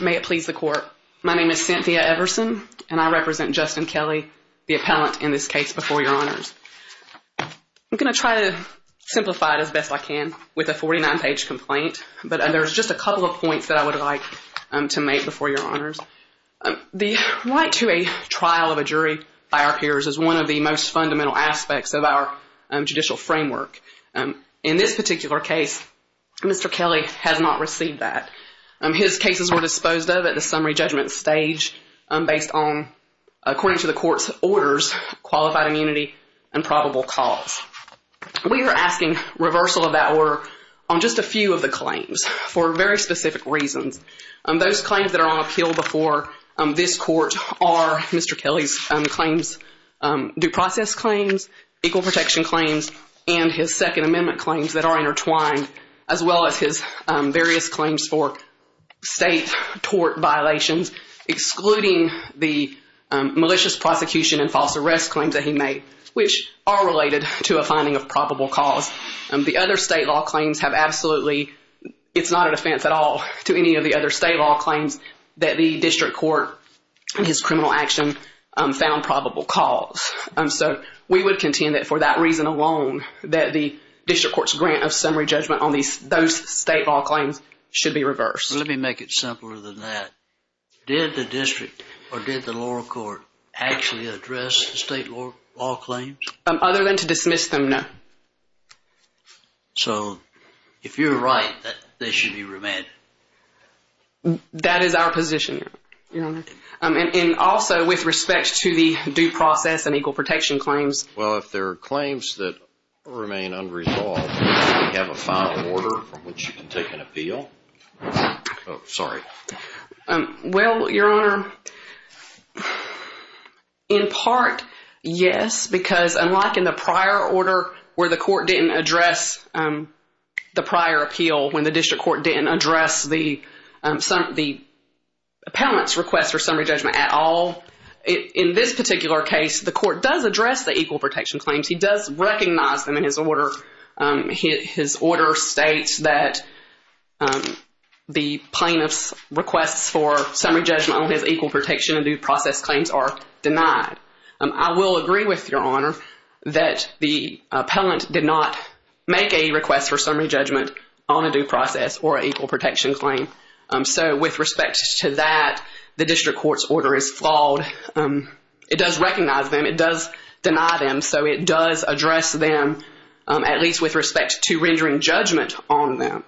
May it please the court. My name is Cynthia Everson and I represent Justin Kelly, the appellant in this case before your honors. I'm gonna try to simplify it as best I can with a 49 page complaint but there's just a couple of points that I would like to make before your honors. The right to a trial of a jury by our peers is one of the most fundamental aspects of our judicial framework. In this particular case, Mr. Kelly has not received that. His cases were disposed of at the summary judgment stage based on, according to the court's orders, qualified immunity and probable cause. We are asking reversal of that order on just a few of the claims for very specific reasons. Those claims that are on appeal before this court are Mr. Kelly's claims, due process claims, equal protection claims, and his second amendment claims that are intertwined as well as his various claims for state tort violations, excluding the malicious prosecution and false arrest claims that he made, which are related to a finding of probable cause. The other state law claims have absolutely, it's not a defense at all to any of the other state law claims that the district court and contend that for that reason alone that the district court's grant of summary judgment on these those state law claims should be reversed. Let me make it simpler than that. Did the district or did the lower court actually address state law claims? Other than to dismiss them, no. So if you're right that they should be remanded? That is our position. And also with respect to the due process and equal protection claims. Well, if there are claims that remain unresolved, do you have a final order from which you can take an appeal? Sorry. Well, your honor, in part, yes, because unlike in the prior order where the court didn't address the prior appeal, when the district court didn't address the case, the court does address the equal protection claims. He does recognize them in his order. His order states that the plaintiff's requests for summary judgment on his equal protection and due process claims are denied. I will agree with your honor that the appellant did not make a request for summary judgment on a due process or equal protection claim. So with respect to that, the court does recognize them. It does deny them. So it does address them, at least with respect to rendering judgment on them.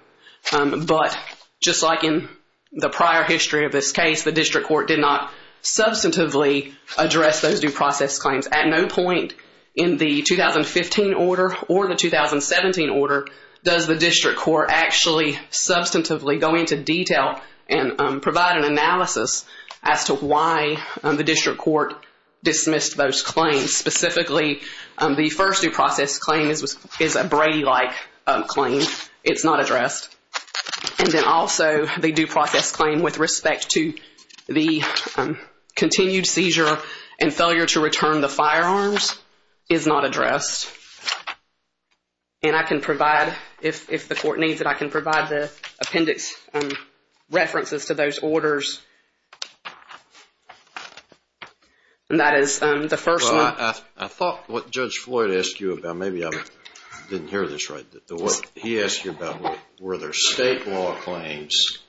But just like in the prior history of this case, the district court did not substantively address those due process claims. At no point in the 2015 order or the 2017 order does the district court actually substantively go into detail and provide an analysis as to why the district court dismissed those claims. Specifically, the first due process claim is a Brady-like claim. It's not addressed. And then also the due process claim with respect to the continued seizure and failure to return the firearms is not addressed. And I can provide, if the court needs it, I can provide the And that is the first one. I thought what Judge Floyd asked you about, maybe I didn't hear this right, he asked you about were there state law claims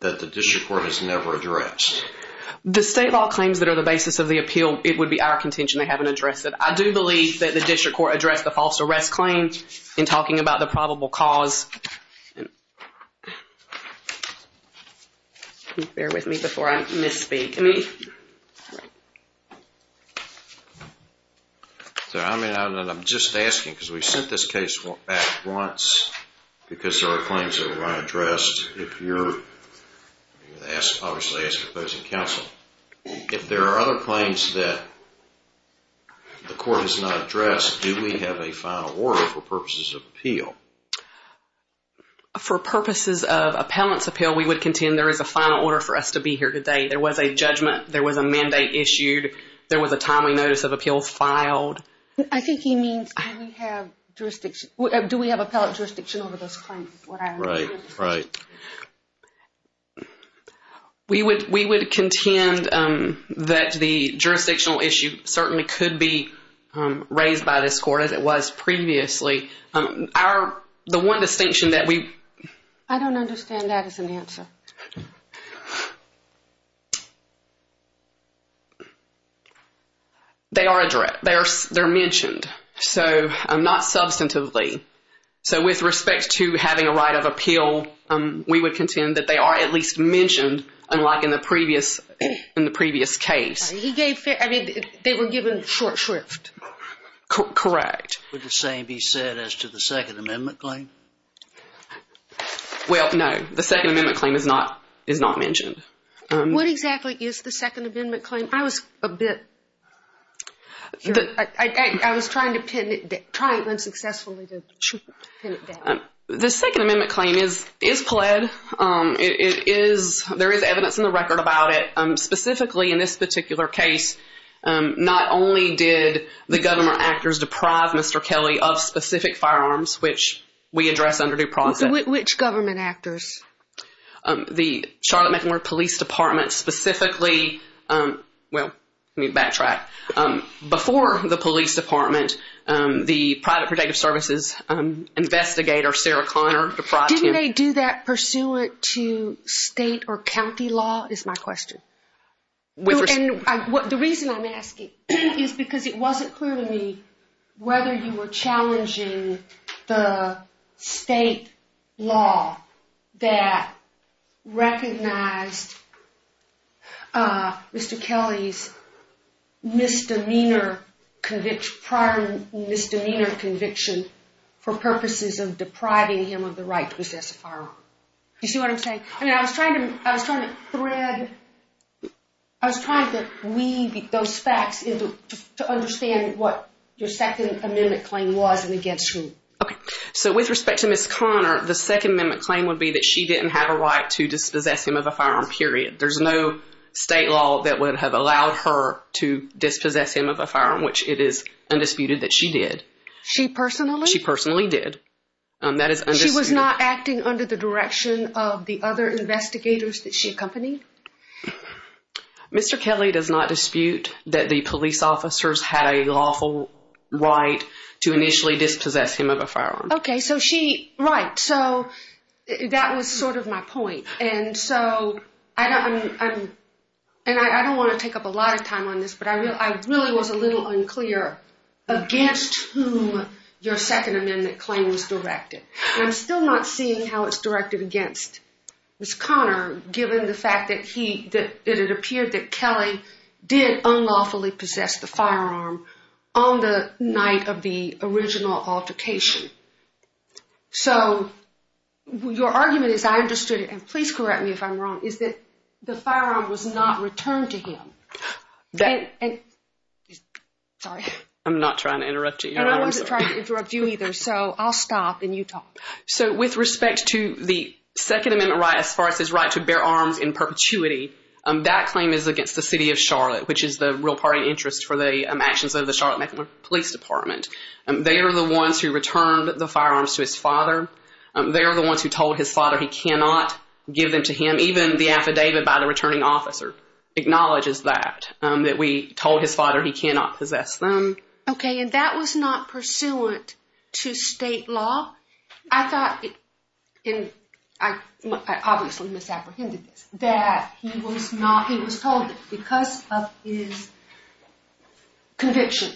that the district court has never addressed. The state law claims that are the basis of the appeal, it would be our contention they haven't addressed it. I do believe that the district court addressed the false arrest claim in talking about the I'm just asking because we sent this case back once because there are claims that were not addressed. If there are other claims that the court has not addressed, do we have a final order for purposes of appeal? For purposes of appellant's appeal, we would contend there is a final order for us to be here to date. There was a judgment, there was a mandate issued, there was a timely notice of appeals filed. I think he means do we have appellate jurisdiction over those claims. Right, right. We would contend that the jurisdictional issue certainly could be raised by this court as it was previously. The one they are addressed, they're mentioned, so not substantively. So with respect to having a right of appeal, we would contend that they are at least mentioned unlike in the previous case. He gave, I mean they were given short shrift. Correct. Would the same be said as to the Second Amendment claim? Well no, the What exactly is the Second Amendment claim? I was a bit, I was trying to pin it down, trying unsuccessfully to pin it down. The Second Amendment claim is pled. It is, there is evidence in the record about it. Specifically in this particular case, not only did the government actors deprive Mr. Kelly of specific firearms, which we address under due process. Which government actors? The Charlotte-McElmure Police Department, specifically, well let me backtrack. Before the Police Department, the Private Protective Services Investigator, Sarah Connor, deprived him. Didn't they do that pursuant to state or county law, is my question. The reason I'm asking is because it wasn't clear to me whether you were challenging the state law that recognized Mr. Kelly's misdemeanor conviction, prior misdemeanor conviction, for purposes of depriving him of the right to possess a firearm. You see what I'm saying? I mean I was trying to, I was trying to thread, I was trying to weave those facts into, to understand what your Second Amendment claim was and against whom. Okay, so with respect to Miss Connor, the Second Amendment claim would be that she didn't have a right to dispossess him of a firearm, period. There's no state law that would have allowed her to dispossess him of a firearm, which it is undisputed that she did. She personally? She personally did. That is undisputed. She was not acting under the direction of the other investigators that she accompanied? Mr. Kelly does not dispute that the police officers had a lawful right to initially dispossess him of a firearm. Okay, so she, right, so that was sort of my point. And so, I don't, and I don't want to take up a lot of time on this, but I really was a little unclear against whom your Second Amendment claim was directed. And I'm still not seeing how it's directed against Miss Connor, given the fact that he, that it appeared that Kelly did unlawfully possess the firearm on the night of the original altercation. So, your argument, as I understood it, and please correct me if I'm wrong, is that the firearm was not returned to him. Sorry. I'm not trying to interrupt you. I wasn't trying to interrupt you either, so I'll stop and you talk. So, with respect to the Second Amendment right, as far as his right to bear arms in perpetuity, that claim is against the city of Charlotte, which is the real party interest for the actions of the Charlotte Metropolitan Police Department. They are the ones who returned the firearms to his father. They are the ones who told his father he cannot give them to him. Even the affidavit by the returning officer acknowledges that, that we told his father he cannot possess them. Okay, and that was not pursuant to state law? I thought, and I obviously misapprehended this, that he was told that because of his conviction,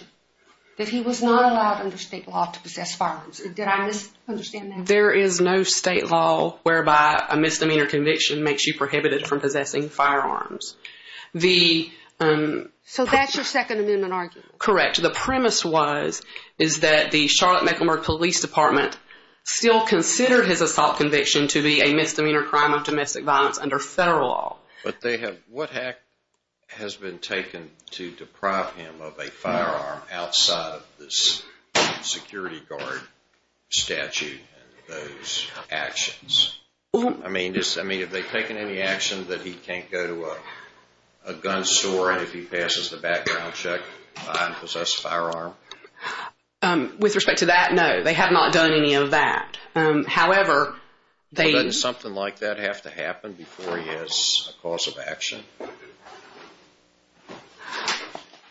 that he was not allowed under state law to possess firearms. Did I misunderstand that? There is no state law whereby a misdemeanor conviction makes you prohibited from possessing firearms. So, that's your Second Amendment argument? Correct. The premise was, is that the Charlotte Metropolitan Police Department still considered his assault conviction to be a misdemeanor crime of domestic violence under federal law. But they have, what act has been taken to deprive him of a firearm outside of this security guard statute and those actions? I mean, have they taken any action that he can't go to a gun store and if he passes the background check, I don't possess a firearm? With respect to that, no. They have not done any of that. However, they... Doesn't something like that have to happen before he has a cause of action?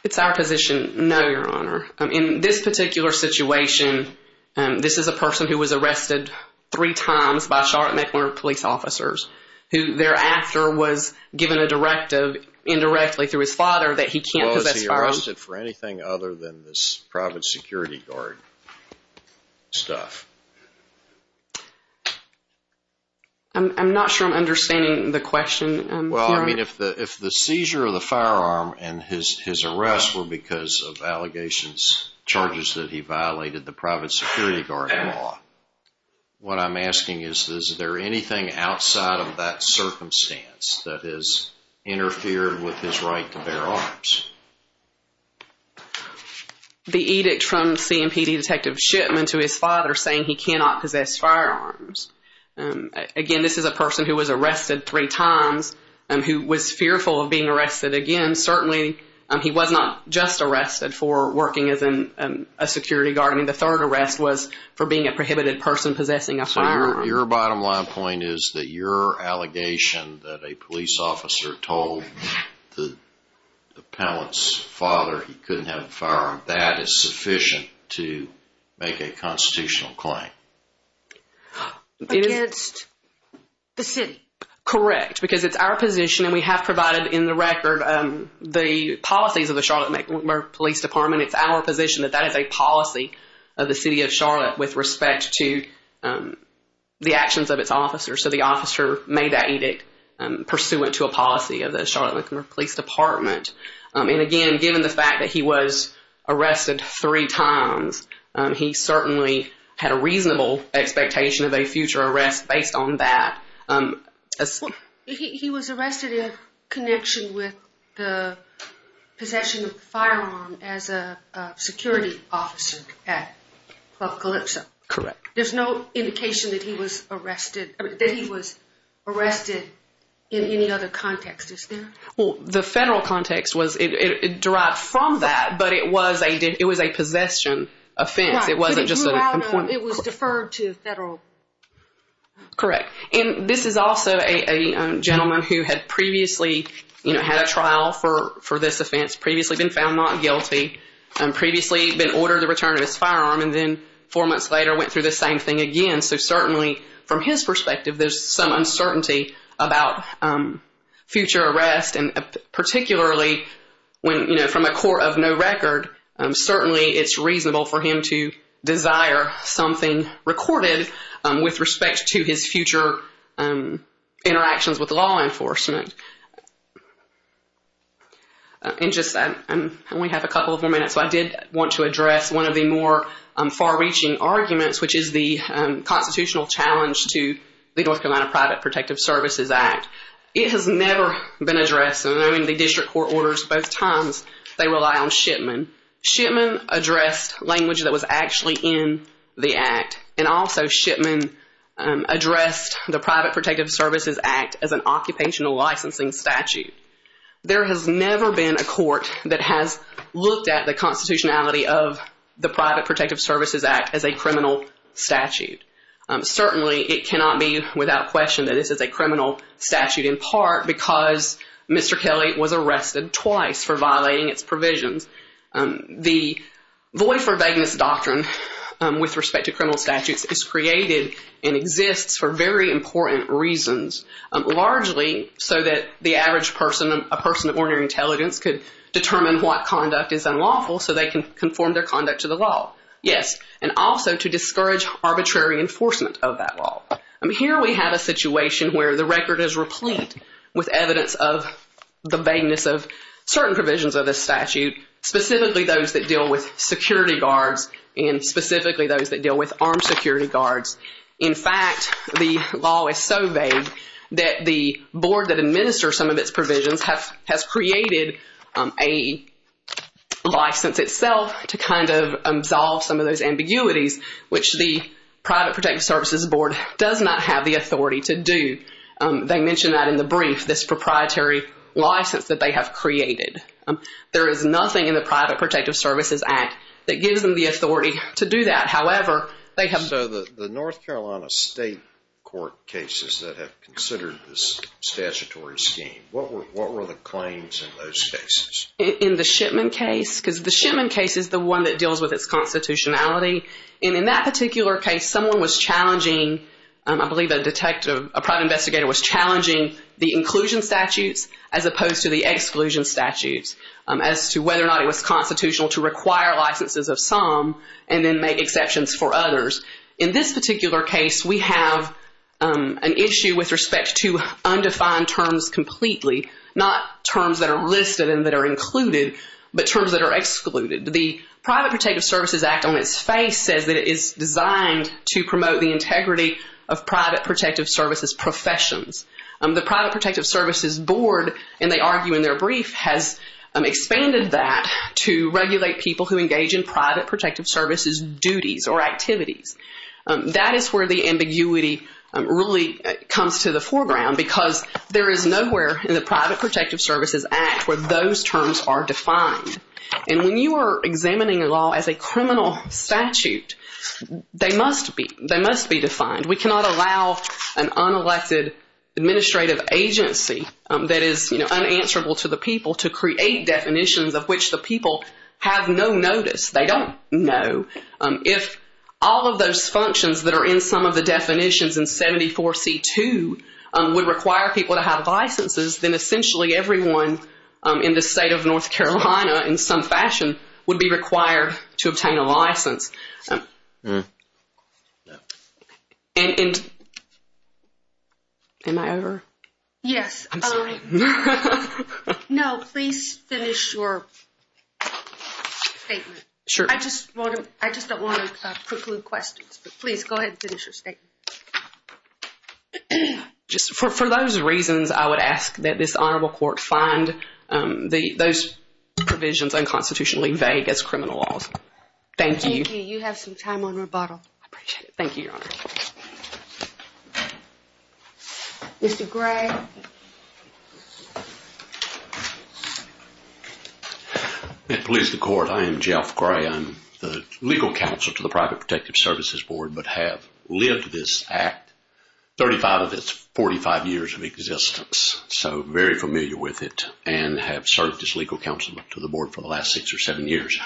It's our position, no, Your Honor. In this particular situation, this is a person who was arrested three times by Charlotte Metropolitan Police officers, who thereafter was given a directive indirectly through his father that he can't possess firearms. Was he arrested for anything other than this private security guard stuff? I'm not sure I'm understanding the question, Your Honor. The edict from CMPD Detective Shipman to his father saying he cannot possess firearms. Again, this is a person who was arrested three times and who was fearful of being arrested again. Certainly, he was not just arrested for working as a security guard. I mean, the third arrest was for being a prohibited person possessing a firearm. So, your bottom line point is that your allegation that a police officer told the appellant's father he couldn't have a firearm, that is sufficient to make a constitutional claim? Against the city. Correct. Because it's our position, and we have provided in the record the policies of the Charlotte Metropolitan Police Department. It's our position that that is a policy of the city of Charlotte with respect to the actions of its officers. So, the officer made that edict pursuant to a policy of the Charlotte Metropolitan Police Department. And again, given the fact that he was arrested three times, he certainly had a reasonable expectation of a future arrest based on that. He was arrested in connection with the possession of the firearm as a security officer at Club Calypso. Correct. There's no indication that he was arrested in any other context, is there? Well, the federal context was derived from that, but it was a possession offense. It wasn't just a complaint. It was deferred to federal. Correct. And this is also a gentleman who had previously had a trial for this offense, previously been found not guilty, previously been ordered to return his firearm, and then four months later went through the same thing again. So, certainly from his perspective, there's some uncertainty about future arrest, and particularly from a court of no record, certainly it's reasonable for him to desire something recorded with respect to his future interactions with law enforcement. And just, I only have a couple of more minutes, so I did want to address one of the more far-reaching arguments, which is the constitutional challenge to the North Carolina Private Protective Services Act. It has never been addressed, and I mean, the district court orders both times, they rely on Shipman. Shipman addressed language that was actually in the act, and also Shipman addressed the Private Protective Services Act as an occupational licensing statute. There has never been a court that has looked at the constitutionality of the Private Protective Services Act as a criminal statute. Certainly, it cannot be without question that this is a criminal statute, in part because Mr. Kelly was arrested twice for violating its provisions. The void for vagueness doctrine with respect to criminal statutes is created and exists for very important reasons, largely so that the average person, a person of ordinary intelligence, could determine what conduct is unlawful so they can conform their conduct to the law. Yes, and also to discourage arbitrary enforcement of that law. Here we have a situation where the record is replete with evidence of the vagueness of certain provisions of this statute, specifically those that deal with security guards and specifically those that deal with armed security guards. In fact, the law is so vague that the board that administers some of its provisions has created a license itself to kind of absolve some of those ambiguities, which the Private Protective Services Board does not have the authority to do. They mention that in the brief, this proprietary license that they have created. There is nothing in the Private Protective Services Act that gives them the authority to do that. However, they have... So the North Carolina State Court cases that have considered this statutory scheme, what were the claims in those cases? In the Shipman case, because the Shipman case is the one that deals with its constitutionality. And in that particular case, someone was challenging, I believe a detective, a private investigator was challenging the inclusion statutes as opposed to the exclusion statutes as to whether or not it was constitutional to require licenses of some and then make exceptions for others. In this particular case, we have an issue with respect to undefined terms completely, not terms that are listed and that are included, but terms that are excluded. The Private Protective Services Act on its face says that it is designed to promote the integrity of private protective services professions. The Private Protective Services Board, and they argue in their brief, has expanded that to regulate people who engage in private protective services duties or activities. That is where the ambiguity really comes to the foreground, because there is nowhere in the Private Protective Services Act where those terms are defined. And when you are examining a law as a criminal statute, they must be defined. We cannot allow an unelected administrative agency that is unanswerable to the people to create definitions of which the people have no notice. They don't know. If all of those functions that are in some of the definitions in 74C2 would require people to have licenses, then essentially everyone in the state of North Carolina in some fashion would be required to obtain a license. Am I over? Yes. I'm sorry. No, please finish your statement. Sure. I just don't want to preclude questions, but please go ahead and finish your statement. For those reasons, I would ask that this Honorable Court find those provisions unconstitutionally vague as criminal laws. Thank you. Thank you. You have some time on rebuttal. I appreciate it. Thank you, Your Honor. Mr. Gray. And please, the Court, I am Jeff Gray. I'm the legal counsel to the Private Protective Services Board but have lived this Act, 35 of its 45 years of existence, so very familiar with it and have served as legal counsel to the Board for the last six or seven years.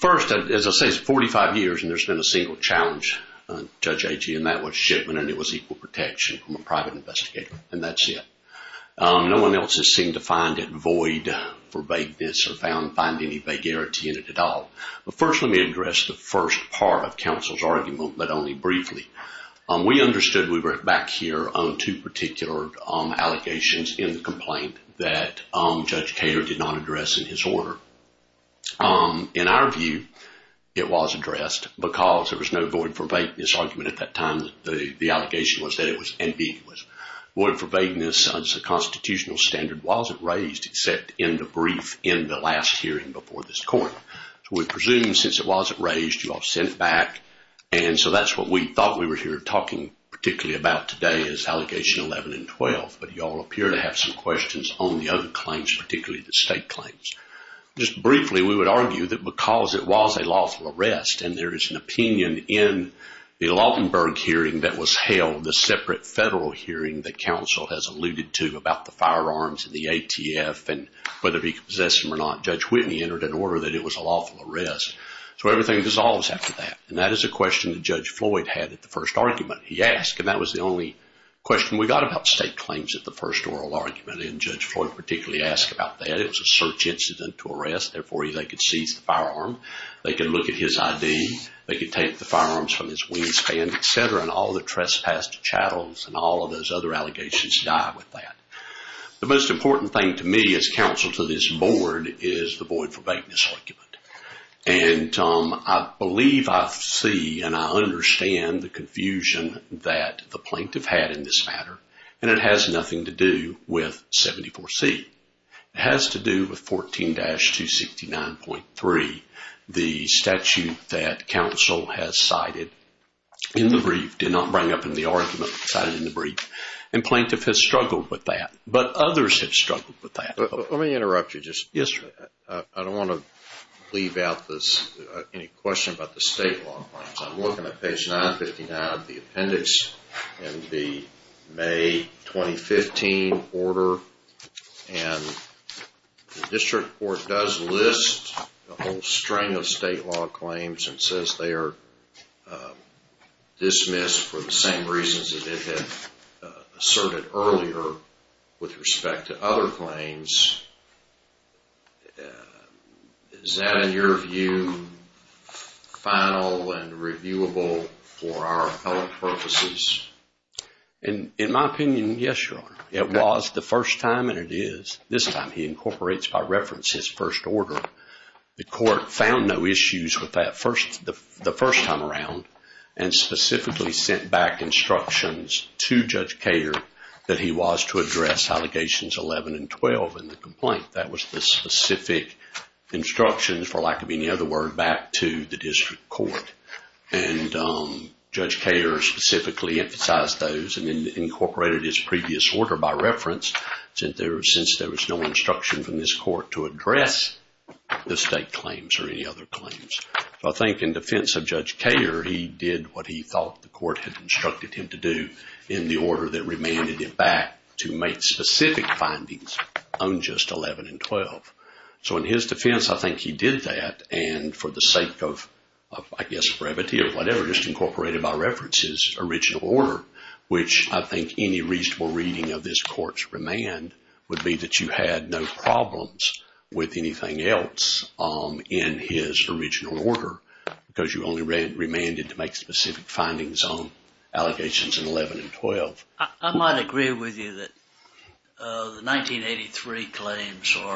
First, as I say, it's 45 years and there's been a single challenge, Judge Agee, and that was shipment and it was equal protection from a private investigator, and that's it. No one else has seemed to find it void for vagueness or found any vagarity in it at all. But first, let me address the first part of counsel's argument, but only briefly. We understood we were back here on two particular allegations in the complaint that Judge Kater did not address in his order. In our view, it was addressed because there was no void for vagueness argument at that time. The allegation was that it was indeed void for vagueness. The constitutional standard wasn't raised except in the brief in the last hearing before this Court. We presume since it wasn't raised, you all sent it back. And so that's what we thought we were here talking particularly about today is Allegation 11 and 12. But you all appear to have some questions on the other claims, particularly the state claims. Just briefly, we would argue that because it was a lawful arrest and there is an opinion in the Lautenberg hearing that was held, the separate federal hearing that counsel has alluded to about the firearms and the ATF, and whether he could possess them or not, Judge Whitney entered an order that it was a lawful arrest. So everything dissolves after that, and that is a question that Judge Floyd had at the first argument he asked, and that was the only question we got about state claims at the first oral argument, and Judge Floyd particularly asked about that. It was a search incident to arrest. Therefore, they could seize the firearm. They could look at his ID. They could take the firearms from his wingspan, et cetera, and all the trespassed chattels and all of those other allegations die with that. The most important thing to me as counsel to this Board is the void for vagueness argument, and I believe I see and I understand the confusion that the plaintiff had in this matter, and it has nothing to do with 74C. It has to do with 14-269.3, the statute that counsel has cited in the brief, did not bring up in the argument, cited in the brief, and plaintiff has struggled with that, but others have struggled with that. Let me interrupt you just a minute. Yes, sir. I don't want to leave out any question about the state law. I'm looking at page 959 of the appendix in the May 2015 order, and the district court does list a whole string of state law claims and says they are dismissed for the same reasons that it had asserted earlier with respect to other claims. Is that, in your view, final and reviewable for our appellate purposes? In my opinion, yes, Your Honor. It was the first time, and it is this time. He incorporates by reference his first order. The court found no issues with that the first time around and specifically sent back instructions to Judge Cater that he was to address allegations 11 and 12 in the complaint. That was the specific instructions, for lack of any other word, back to the district court. And Judge Cater specifically emphasized those and incorporated his previous order by reference since there was no instruction from this court to address the state claims or any other claims. I think in defense of Judge Cater, he did what he thought the court had instructed him to do in the order that remanded him back to make specific findings on just 11 and 12. So in his defense, I think he did that, and for the sake of, I guess, brevity or whatever, just incorporated by reference his original order, which I think any reasonable reading of this court's remand would be that you had no problems with anything else in his original order because you only remanded to make specific findings on allegations in 11 and 12. I might agree with you that the 1983 claims should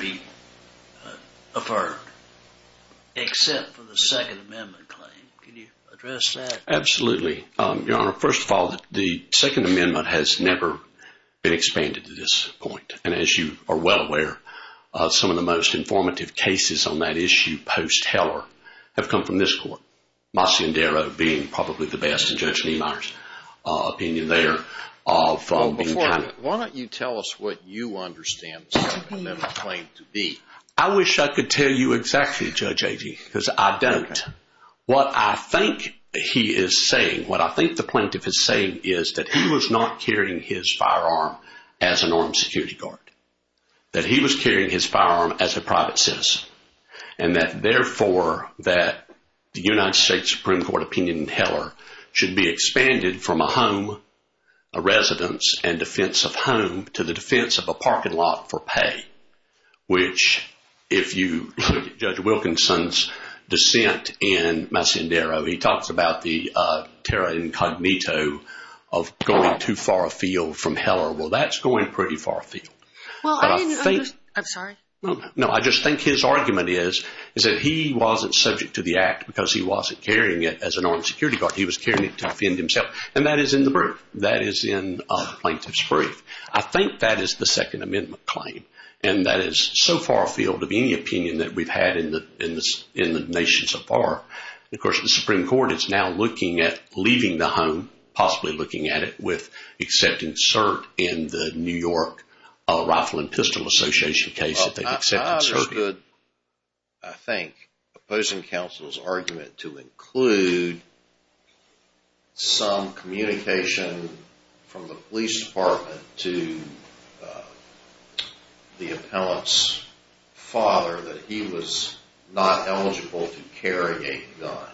be affirmed, except for the Second Amendment claim. Can you address that? Absolutely, Your Honor. First of all, the Second Amendment has never been expanded to this point. And as you are well aware, some of the most informative cases on that issue post-Heller have come from this court, Mascindero being probably the best, and Judge Niemeyer's opinion there of being kind of— Well, before, why don't you tell us what you understand the Second Amendment claim to be? I wish I could tell you exactly, Judge Agee, because I don't. What I think he is saying, what I think the plaintiff is saying, is that he was not carrying his firearm as an armed security guard, that he was carrying his firearm as a private citizen, and that therefore that the United States Supreme Court opinion in Heller should be expanded from a home, a residence, and defense of home to the defense of a parking lot for pay, which if you look at Judge Wilkinson's dissent in Mascindero, he talks about the terra incognito of going too far afield from Heller. Well, that's going pretty far afield. I'm sorry? No, I just think his argument is that he wasn't subject to the act because he wasn't carrying it as an armed security guard. He was carrying it to defend himself, and that is in the brief. That is in the plaintiff's brief. I think that is the Second Amendment claim, and that is so far afield of any opinion that we've had in the nation so far. Of course, the Supreme Court is now looking at leaving the home, possibly looking at it, with accepting cert in the New York Rifle and Pistol Association case that they've accepted cert. I think opposing counsel's argument to include some communication from the police department to the appellant's father that he was not eligible to carry a gun.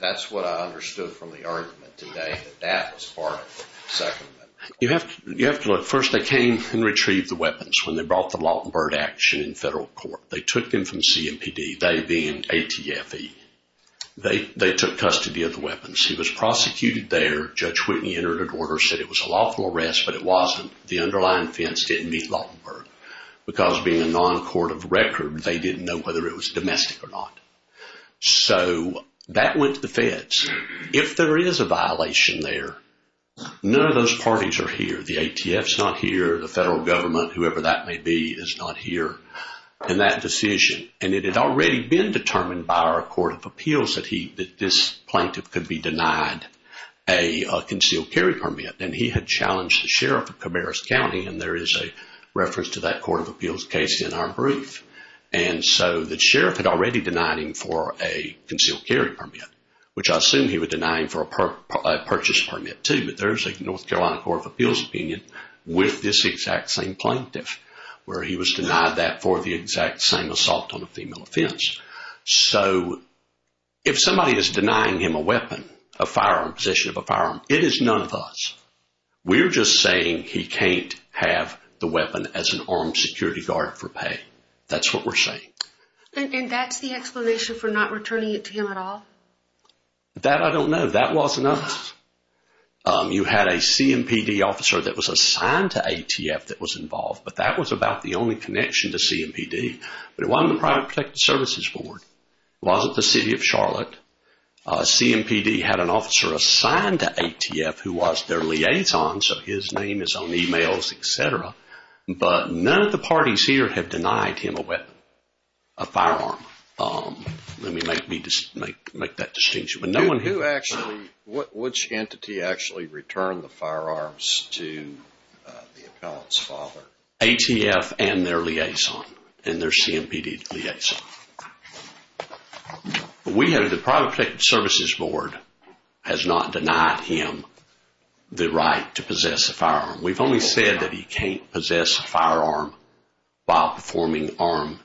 That's what I understood from the argument today, that that was part of the Second Amendment. You have to look. First, they came and retrieved the weapons when they brought the Lautenberg action in federal court. They took them from CMPD, they being ATFE. They took custody of the weapons. He was prosecuted there. Judge Whitney entered an order, said it was a lawful arrest, but it wasn't. The underlying offense didn't meet Lautenberg because being a non-court of record, they didn't know whether it was domestic or not. So that went to the feds. If there is a violation there, none of those parties are here. The ATF's not here, the federal government, whoever that may be is not here in that decision. And it had already been determined by our court of appeals that this plaintiff could be denied a concealed carry permit, and he had challenged the sheriff of Camarus County, and there is a reference to that court of appeals case in our brief. And so the sheriff had already denied him for a concealed carry permit, which I assume he would deny him for a purchase permit too, but there is a North Carolina court of appeals opinion with this exact same plaintiff where he was denied that for the exact same assault on a female offense. So if somebody is denying him a weapon, a firearm, possession of a firearm, it is none of us. We're just saying he can't have the weapon as an armed security guard for pay. That's what we're saying. And that's the explanation for not returning it to him at all? That I don't know. That wasn't us. You had a CMPD officer that was assigned to ATF that was involved, but that was about the only connection to CMPD. It wasn't the city of Charlotte. CMPD had an officer assigned to ATF who was their liaison, so his name is on emails, et cetera, but none of the parties here have denied him a weapon, a firearm. Let me make that distinction. Which entity actually returned the firearms to the appellant's father? ATF and their liaison, and their CMPD liaison. We have the private protected services board has not denied him the right to possess a firearm. We've only said that he can't possess a firearm while performing armed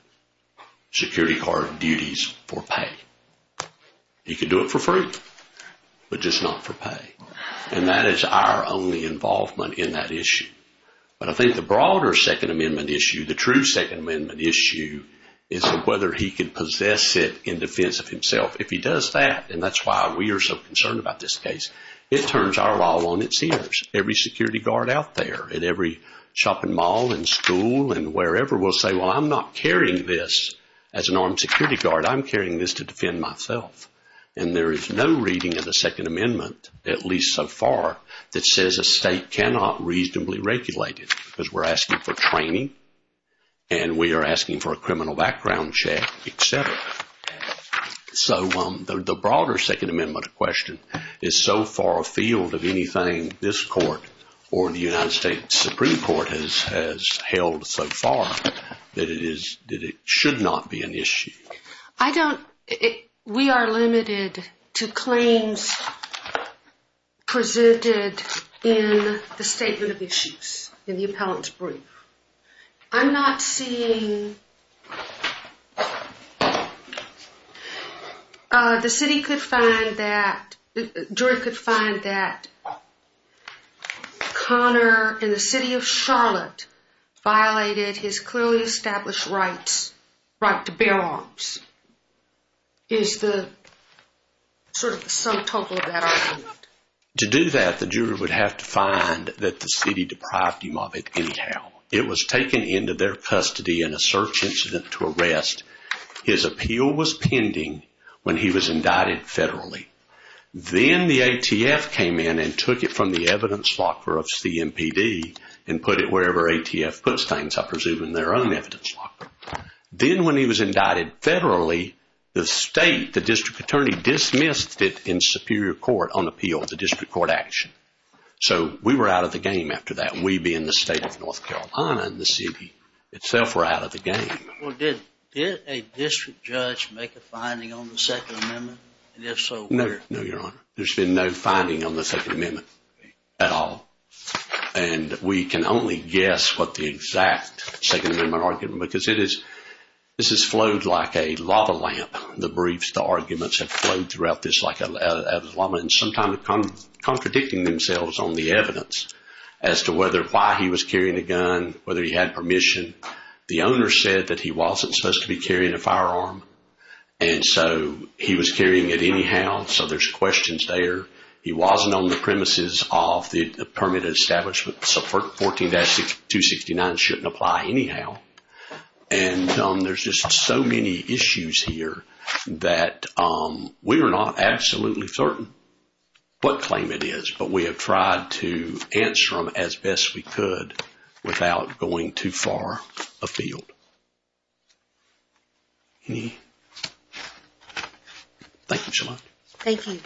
security guard duties for pay. He can do it for free, but just not for pay. And that is our only involvement in that issue. But I think the broader Second Amendment issue, the true Second Amendment issue, is whether he can possess it in defense of himself. If he does that, and that's why we are so concerned about this case, it turns our all on its ears. Every security guard out there at every shopping mall and school and wherever will say, well, I'm not carrying this as an armed security guard. I'm carrying this to defend myself. And there is no reading of the Second Amendment, at least so far, that says a state cannot reasonably regulate it because we're asking for training, and we are asking for a criminal background check, et cetera. So the broader Second Amendment question is so far afield of anything this court or the United States Supreme Court has held so far that it should not be an issue. We are limited to claims presented in the Statement of Issues in the appellant's brief. I'm not seeing... The jury could find that Connor, in the city of Charlotte, violated his clearly established right to bear arms is sort of the sum total of that argument. To do that, the jury would have to find that the city deprived him of it anyhow. It was taken into their custody in a search incident to arrest. His appeal was pending when he was indicted federally. Then the ATF came in and took it from the evidence locker of CMPD and put it wherever ATF puts things, I presume in their own evidence locker. Then when he was indicted federally, the state, the district attorney, dismissed it in superior court on appeal, the district court action. So we were out of the game after that. We being the state of North Carolina and the city itself were out of the game. Well, did a district judge make a finding on the Second Amendment? And if so, where? No, Your Honor. There's been no finding on the Second Amendment at all. And we can only guess what the exact Second Amendment argument, because this has flowed like a lava lamp. The briefs, the arguments have flowed throughout this like a lava lamp and sometimes contradicting themselves on the evidence as to whether why he was carrying a gun, whether he had permission. The owner said that he wasn't supposed to be carrying a firearm, and so he was carrying it anyhow, so there's questions there. He wasn't on the premises of the permanent establishment, so 14-269 shouldn't apply anyhow. And there's just so many issues here that we are not absolutely certain what claim it is, but we have tried to answer them as best we could without going too far afield. Thank you, Shalonda. Thank you.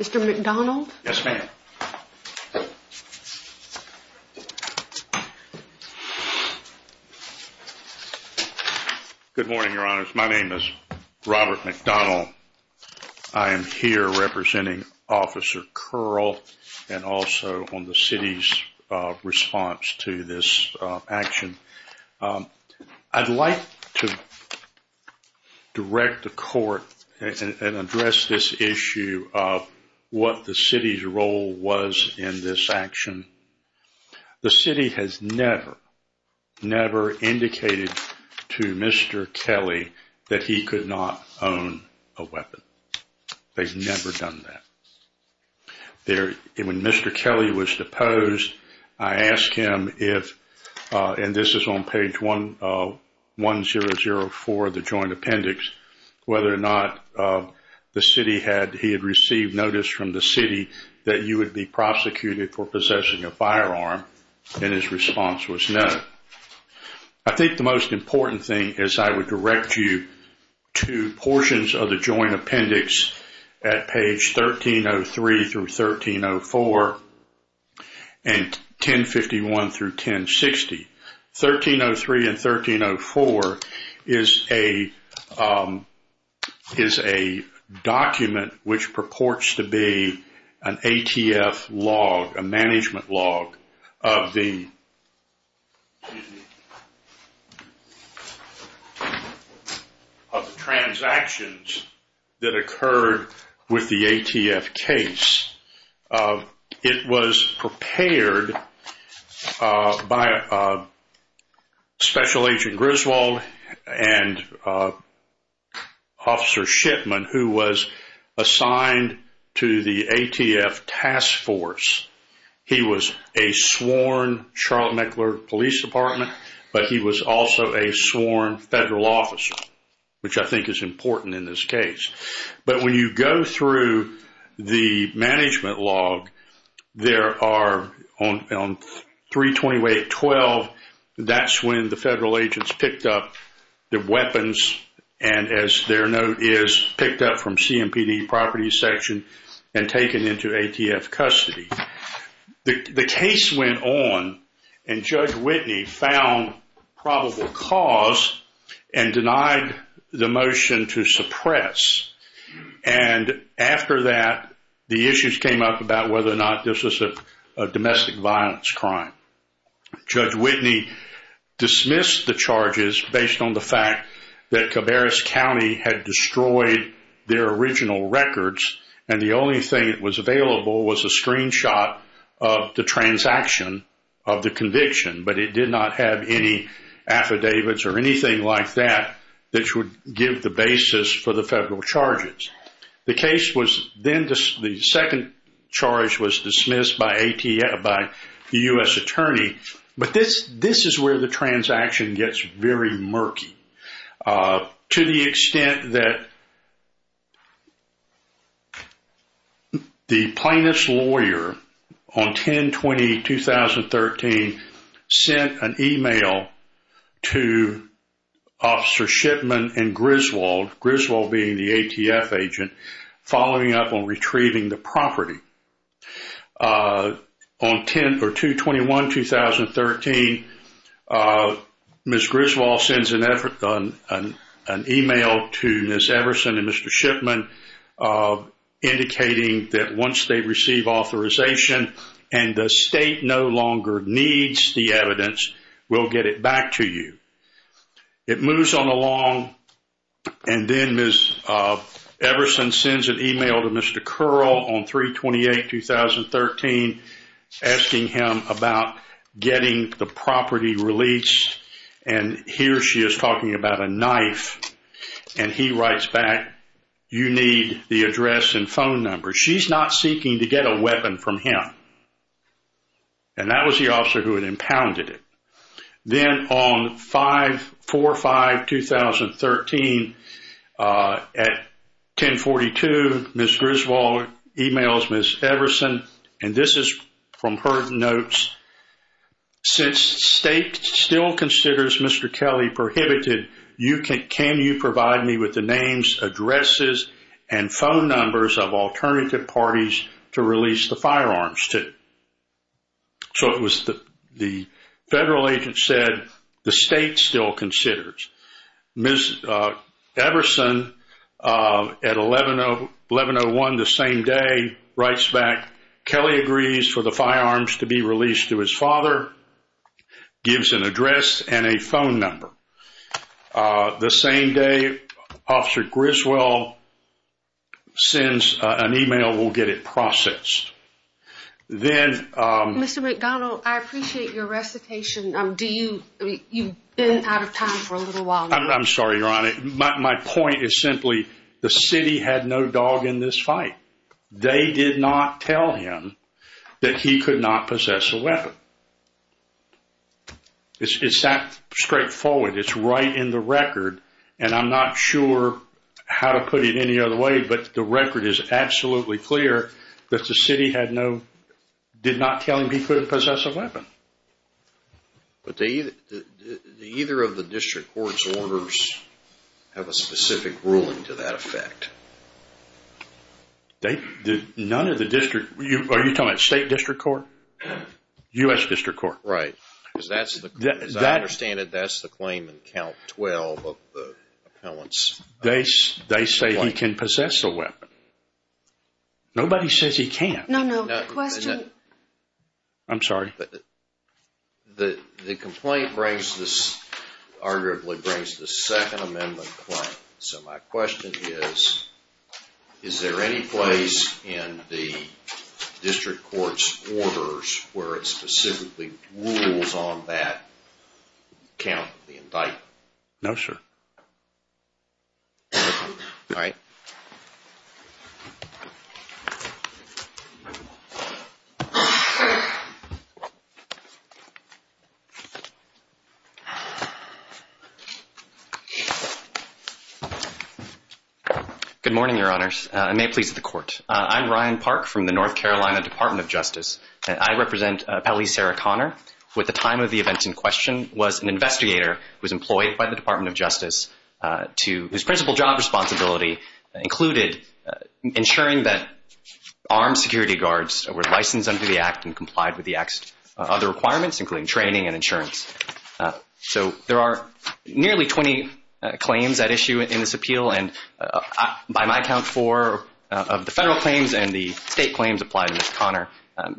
Mr. McDonald? Yes, ma'am. Good morning, Your Honors. My name is Robert McDonald. I am here representing Officer Curl and also on the city's response to this action. I'd like to direct the court and address this issue of what the city's role was in this action. The city has never, never indicated to Mr. Kelly that he could not own a weapon. They've never done that. When Mr. Kelly was deposed, I asked him if, and this is on page 1004 of the joint appendix, whether or not he had received notice from the city that you would be prosecuted for possessing a firearm, and his response was no. I think the most important thing is I would direct you to portions of the 1303 through 1304 and 1051 through 1060. 1303 and 1304 is a document which purports to be an ATF log, a management log of the transactions that occurred with the ATF case. It was prepared by Special Agent Griswold and Officer Shipman, who was assigned to the ATF task force. He was a sworn Charlotte-Meckler Police Department, but he was also a sworn federal officer, which I think is important in this case. But when you go through the management log, there are on 328.12, that's when the federal agents picked up the weapons and, as their note is, picked up from CMPD property section and taken into ATF custody. The case went on, and Judge Whitney found probable cause and denied the motion to suppress. And after that, the issues came up about whether or not this was a domestic violence crime. Judge Whitney dismissed the charges based on the fact that Cabarrus County had destroyed their original records, and the only thing that was available was a screenshot of the transaction of the conviction, but it did not have any affidavits or anything like that that would give the basis for the federal charges. The second charge was dismissed by the U.S. attorney, but this is where the transaction gets very murky. To the extent that the plaintiff's lawyer on 10-20-2013 sent an email to Officer Shipman and Griswold, Griswold being the ATF agent, following up on retrieving the property. On 2-21-2013, Ms. Griswold sends an email to Ms. Everson and Mr. Shipman indicating that once they receive authorization and the state no longer needs the evidence, we'll get it back to you. It moves on along, and then Ms. Everson sends an email to Mr. Curl on 3-28-2013 asking him about getting the property released, and here she is talking about a knife, and he writes back, you need the address and phone number. She's not seeking to get a weapon from him, and that was the officer who had impounded it. Then on 5-4-5-2013 at 10-42, Ms. Griswold emails Ms. Everson, and this is from her notes. Since state still considers Mr. Kelly prohibited, can you provide me with the names, addresses, and phone numbers of alternative parties to release the firearms? So it was the federal agent said the state still considers. Ms. Everson at 11-01 the same day writes back, Kelly agrees for the firearms to be released to his father, gives an address and a phone number. The same day Officer Griswold sends an email, we'll get it processed. Mr. McDonald, I appreciate your recitation. You've been out of time for a little while. I'm sorry, Your Honor. My point is simply the city had no dog in this fight. They did not tell him that he could not possess a weapon. It's that straightforward. It's right in the record, and I'm not sure how to put it any other way, but the record is absolutely clear that the city did not tell him he couldn't possess a weapon. But either of the district court's orders have a specific ruling to that effect. None of the district, are you talking about state district court? U.S. district court. Right. As I understand it, that's the claim in count 12 of the appellants. They say he can possess a weapon. Nobody says he can't. No, no. Question. I'm sorry. The complaint arguably brings the second amendment claim. So my question is, is there any place in the district court's orders where it specifically rules on that count of the indictment? No, sir. All right. Good morning, Your Honors. I may please the court. I'm Ryan Park from the North Carolina Department of Justice, and I represent Appellee Sarah Connor, who at the time of the event in question was an investigator who was employed by the Department of Justice, whose principal job responsibility included ensuring that armed security guards were licensed under the Act and complied with the Act's other requirements, including training and insurance. So there are nearly 20 claims at issue in this appeal, and by my count four of the federal claims and the state claims apply to Ms. Connor.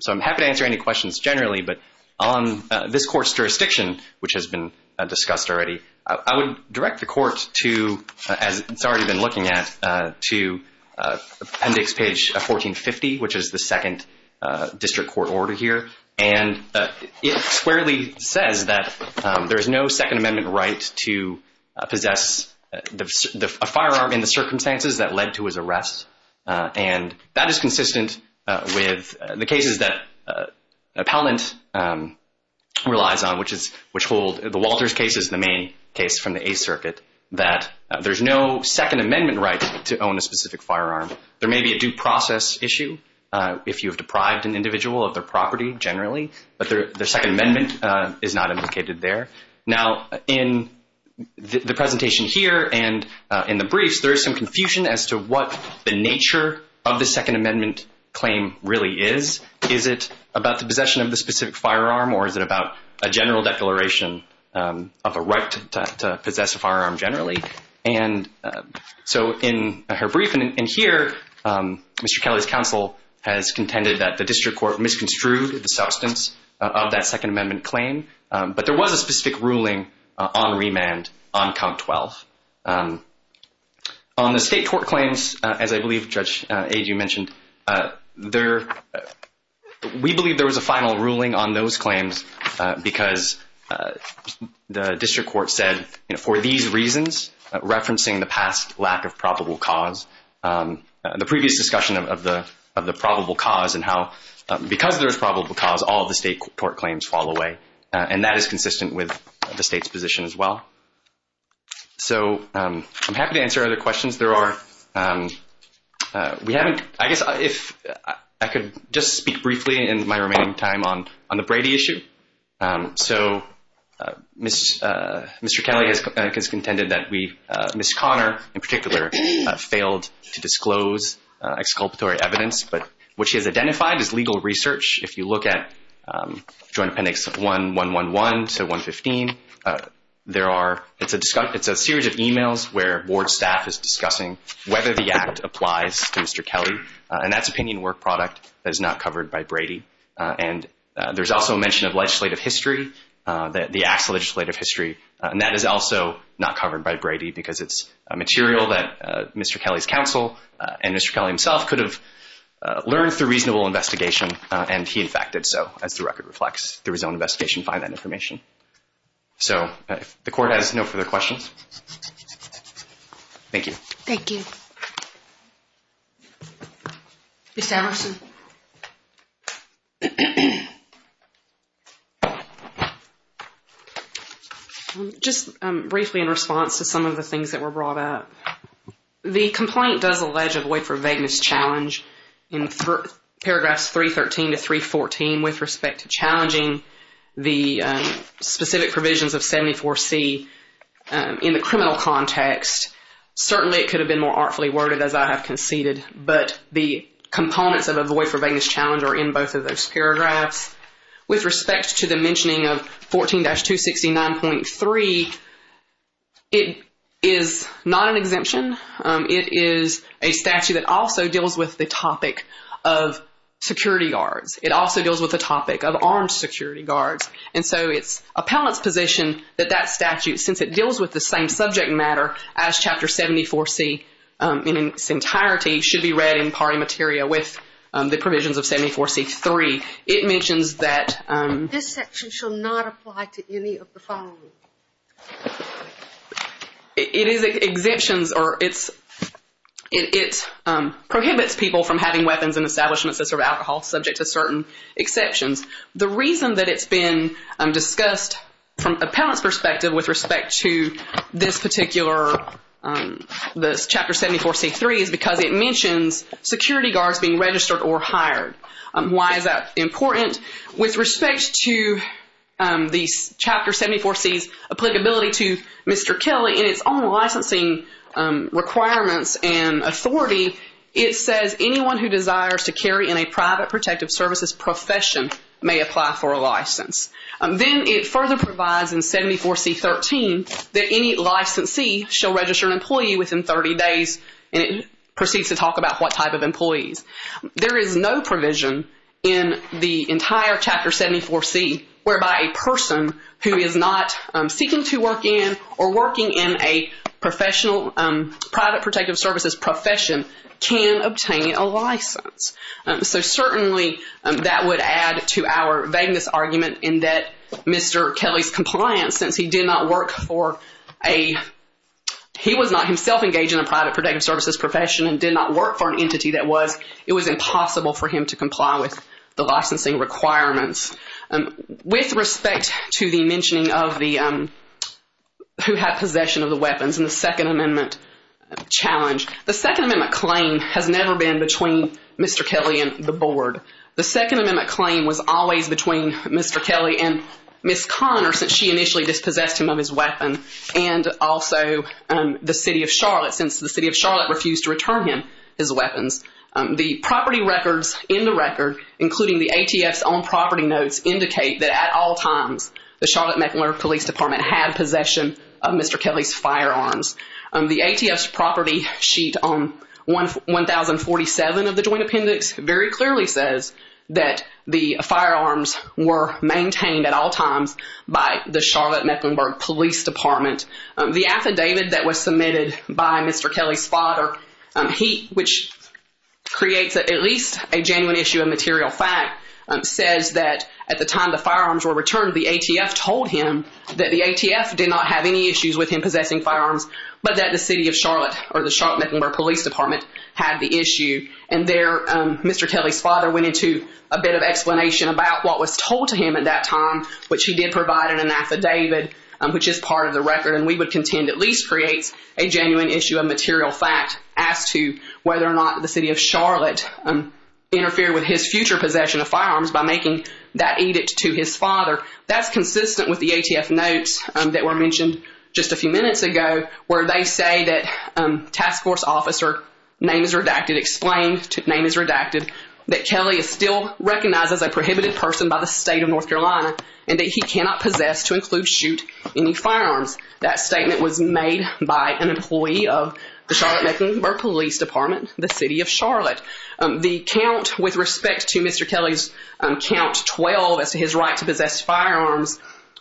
So I'm happy to answer any questions generally, but on this court's jurisdiction, which has been discussed already, I would direct the court to, as it's already been looking at, to appendix page 1450, which is the second district court order here. And it squarely says that there is no Second Amendment right to possess a firearm in the circumstances that led to his arrest, and that is consistent with the cases that Appellant relies on, which hold the Walters cases, the main case from the Eighth Circuit, that there's no Second Amendment right to own a specific firearm. There may be a due process issue if you have deprived an individual of their property generally, but the Second Amendment is not implicated there. Now, in the presentation here and in the briefs, there is some confusion as to what the nature of the Second Amendment claim really is. Is it about the possession of the specific firearm or is it about a general declaration of a right to possess a firearm generally? And so in her brief, and here Mr. Kelly's counsel has contended that the Second Amendment claim is not the substance of the Second Amendment claim, but there was a specific ruling on remand on count 12. On the state court claims, as I believe Judge Agee mentioned, we believe there was a final ruling on those claims because the district court said, for these reasons, referencing the past lack of probable cause, the previous discussion of the probable cause and how because there's probable cause, all of the state court claims fall away. And that is consistent with the state's position as well. So I'm happy to answer other questions. There are, we haven't, I guess if I could just speak briefly in my remaining time on the Brady issue. So Mr. Kelly has contended that we, Ms. Connor in particular, failed to disclose exculpatory evidence, but what she has identified is legal research. If you look at Joint Appendix 1111 to 115, there are, it's a series of emails where board staff is discussing whether the act applies to Mr. Kelly, and that's opinion work product that is not covered by Brady. And there's also a mention of legislative history, the act's legislative history, and that is also not covered by Brady because it's material that Mr. Kelly's counsel and Mr. Kelly himself could have learned through reasonable investigation, and he in fact did so, as the record reflects, through his own investigation to find that information. So the court has no further questions. Thank you. Thank you. Ms. Anderson. Ms. Anderson. Just briefly in response to some of the things that were brought up, the complaint does allege a void for vagueness challenge in paragraphs 313 to 314 with respect to challenging the specific provisions of 74C in the criminal context. Certainly it could have been more artfully worded, as I have conceded, but the components of a void for vagueness challenge are in both of those paragraphs. With respect to the mentioning of 14-269.3, it is not an exemption. It is a statute that also deals with the topic of security guards. It also deals with the topic of armed security guards. And so it's appellant's position that that statute, since it deals with the same subject matter as Chapter 74C in its entirety, should be read in party materia with the provisions of 74C3. It mentions that. This section shall not apply to any of the following. It prohibits people from having weapons and establishments that serve alcohol, subject to certain exceptions. The reason that it's been discussed from appellant's perspective with respect to this particular, this Chapter 74C3 is because it mentions security guards being registered or hired. Why is that important? With respect to the Chapter 74C's applicability to Mr. Kelly and its own licensing requirements and authority, it says anyone who desires to carry in a private protective services profession may apply for a license. Then it further provides in 74C13 that any licensee shall register an employee within 30 days and it proceeds to talk about what type of employees. There is no provision in the entire Chapter 74C whereby a person who is not seeking to work in or working in a professional private protective services profession can obtain a license. So certainly that would add to our vagueness argument in that Mr. Kelly's compliance, since he did not work for a, he was not himself engaged in a private protective services profession and did not work for an entity that was, it was impossible for him to comply with the licensing requirements. With respect to the mentioning of the, who had possession of the weapons in the Second Amendment challenge, the Second Amendment claim has never been between Mr. Kelly and the Board. The Second Amendment claim was always between Mr. Kelly and Ms. Conner since she initially dispossessed him of his weapon and also the City of Charlotte since the City of Charlotte refused to return him his weapons. The property records in the record, including the ATF's own property notes, indicate that at all times the Charlotte-McIntyre Police Department had possession of Mr. Kelly's firearms. The ATF's property sheet on 1047 of the Joint Appendix very clearly says that the firearms were maintained at all times by the Charlotte-Mecklenburg Police Department. The affidavit that was submitted by Mr. Kelly's father, which creates at least a genuine issue of material fact, says that at the time the firearms were returned, the ATF told him that the ATF did not have any issues with him possessing firearms, but that the City of Charlotte or the Charlotte-Mecklenburg Police Department had the issue. And there Mr. Kelly's father went into a bit of explanation about what was told to him at that time, which he did provide in an affidavit, which is part of the record, and we would contend at least creates a genuine issue of material fact as to whether or not the City of Charlotte interfered with his future possession of firearms by making that edict to his father. That's consistent with the ATF notes that were mentioned just a few minutes ago where they say that task force officer, name is redacted, explained, name is redacted, that Kelly is still recognized as a prohibited person by the State of North Carolina and that he cannot possess to include shoot any firearms. That statement was made by an employee of the Charlotte-Mecklenburg Police Department, the City of Charlotte. The count with respect to Mr. Kelly's count 12 as to his right to possess firearms,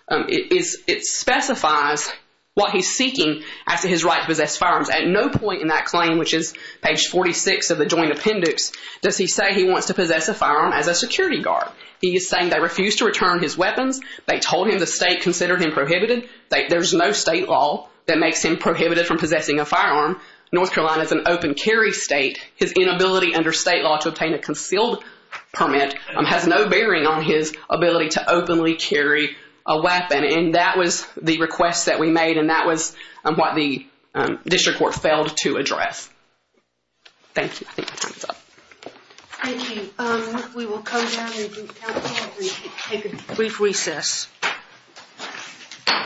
it specifies what he's seeking as to his right to possess firearms. At no point in that claim, which is page 46 of the joint appendix, does he say he wants to possess a firearm as a security guard. He is saying they refused to return his weapons, they told him the State considered him prohibited, there's no State law that makes him prohibited from possessing a firearm. North Carolina is an open carry state. His inability under State law to obtain a concealed permit has no bearing on his ability to openly carry a weapon. And that was the request that we made and that was what the district court failed to address. Thank you. I think my time is up. Thank you. We will come down and take a brief recess.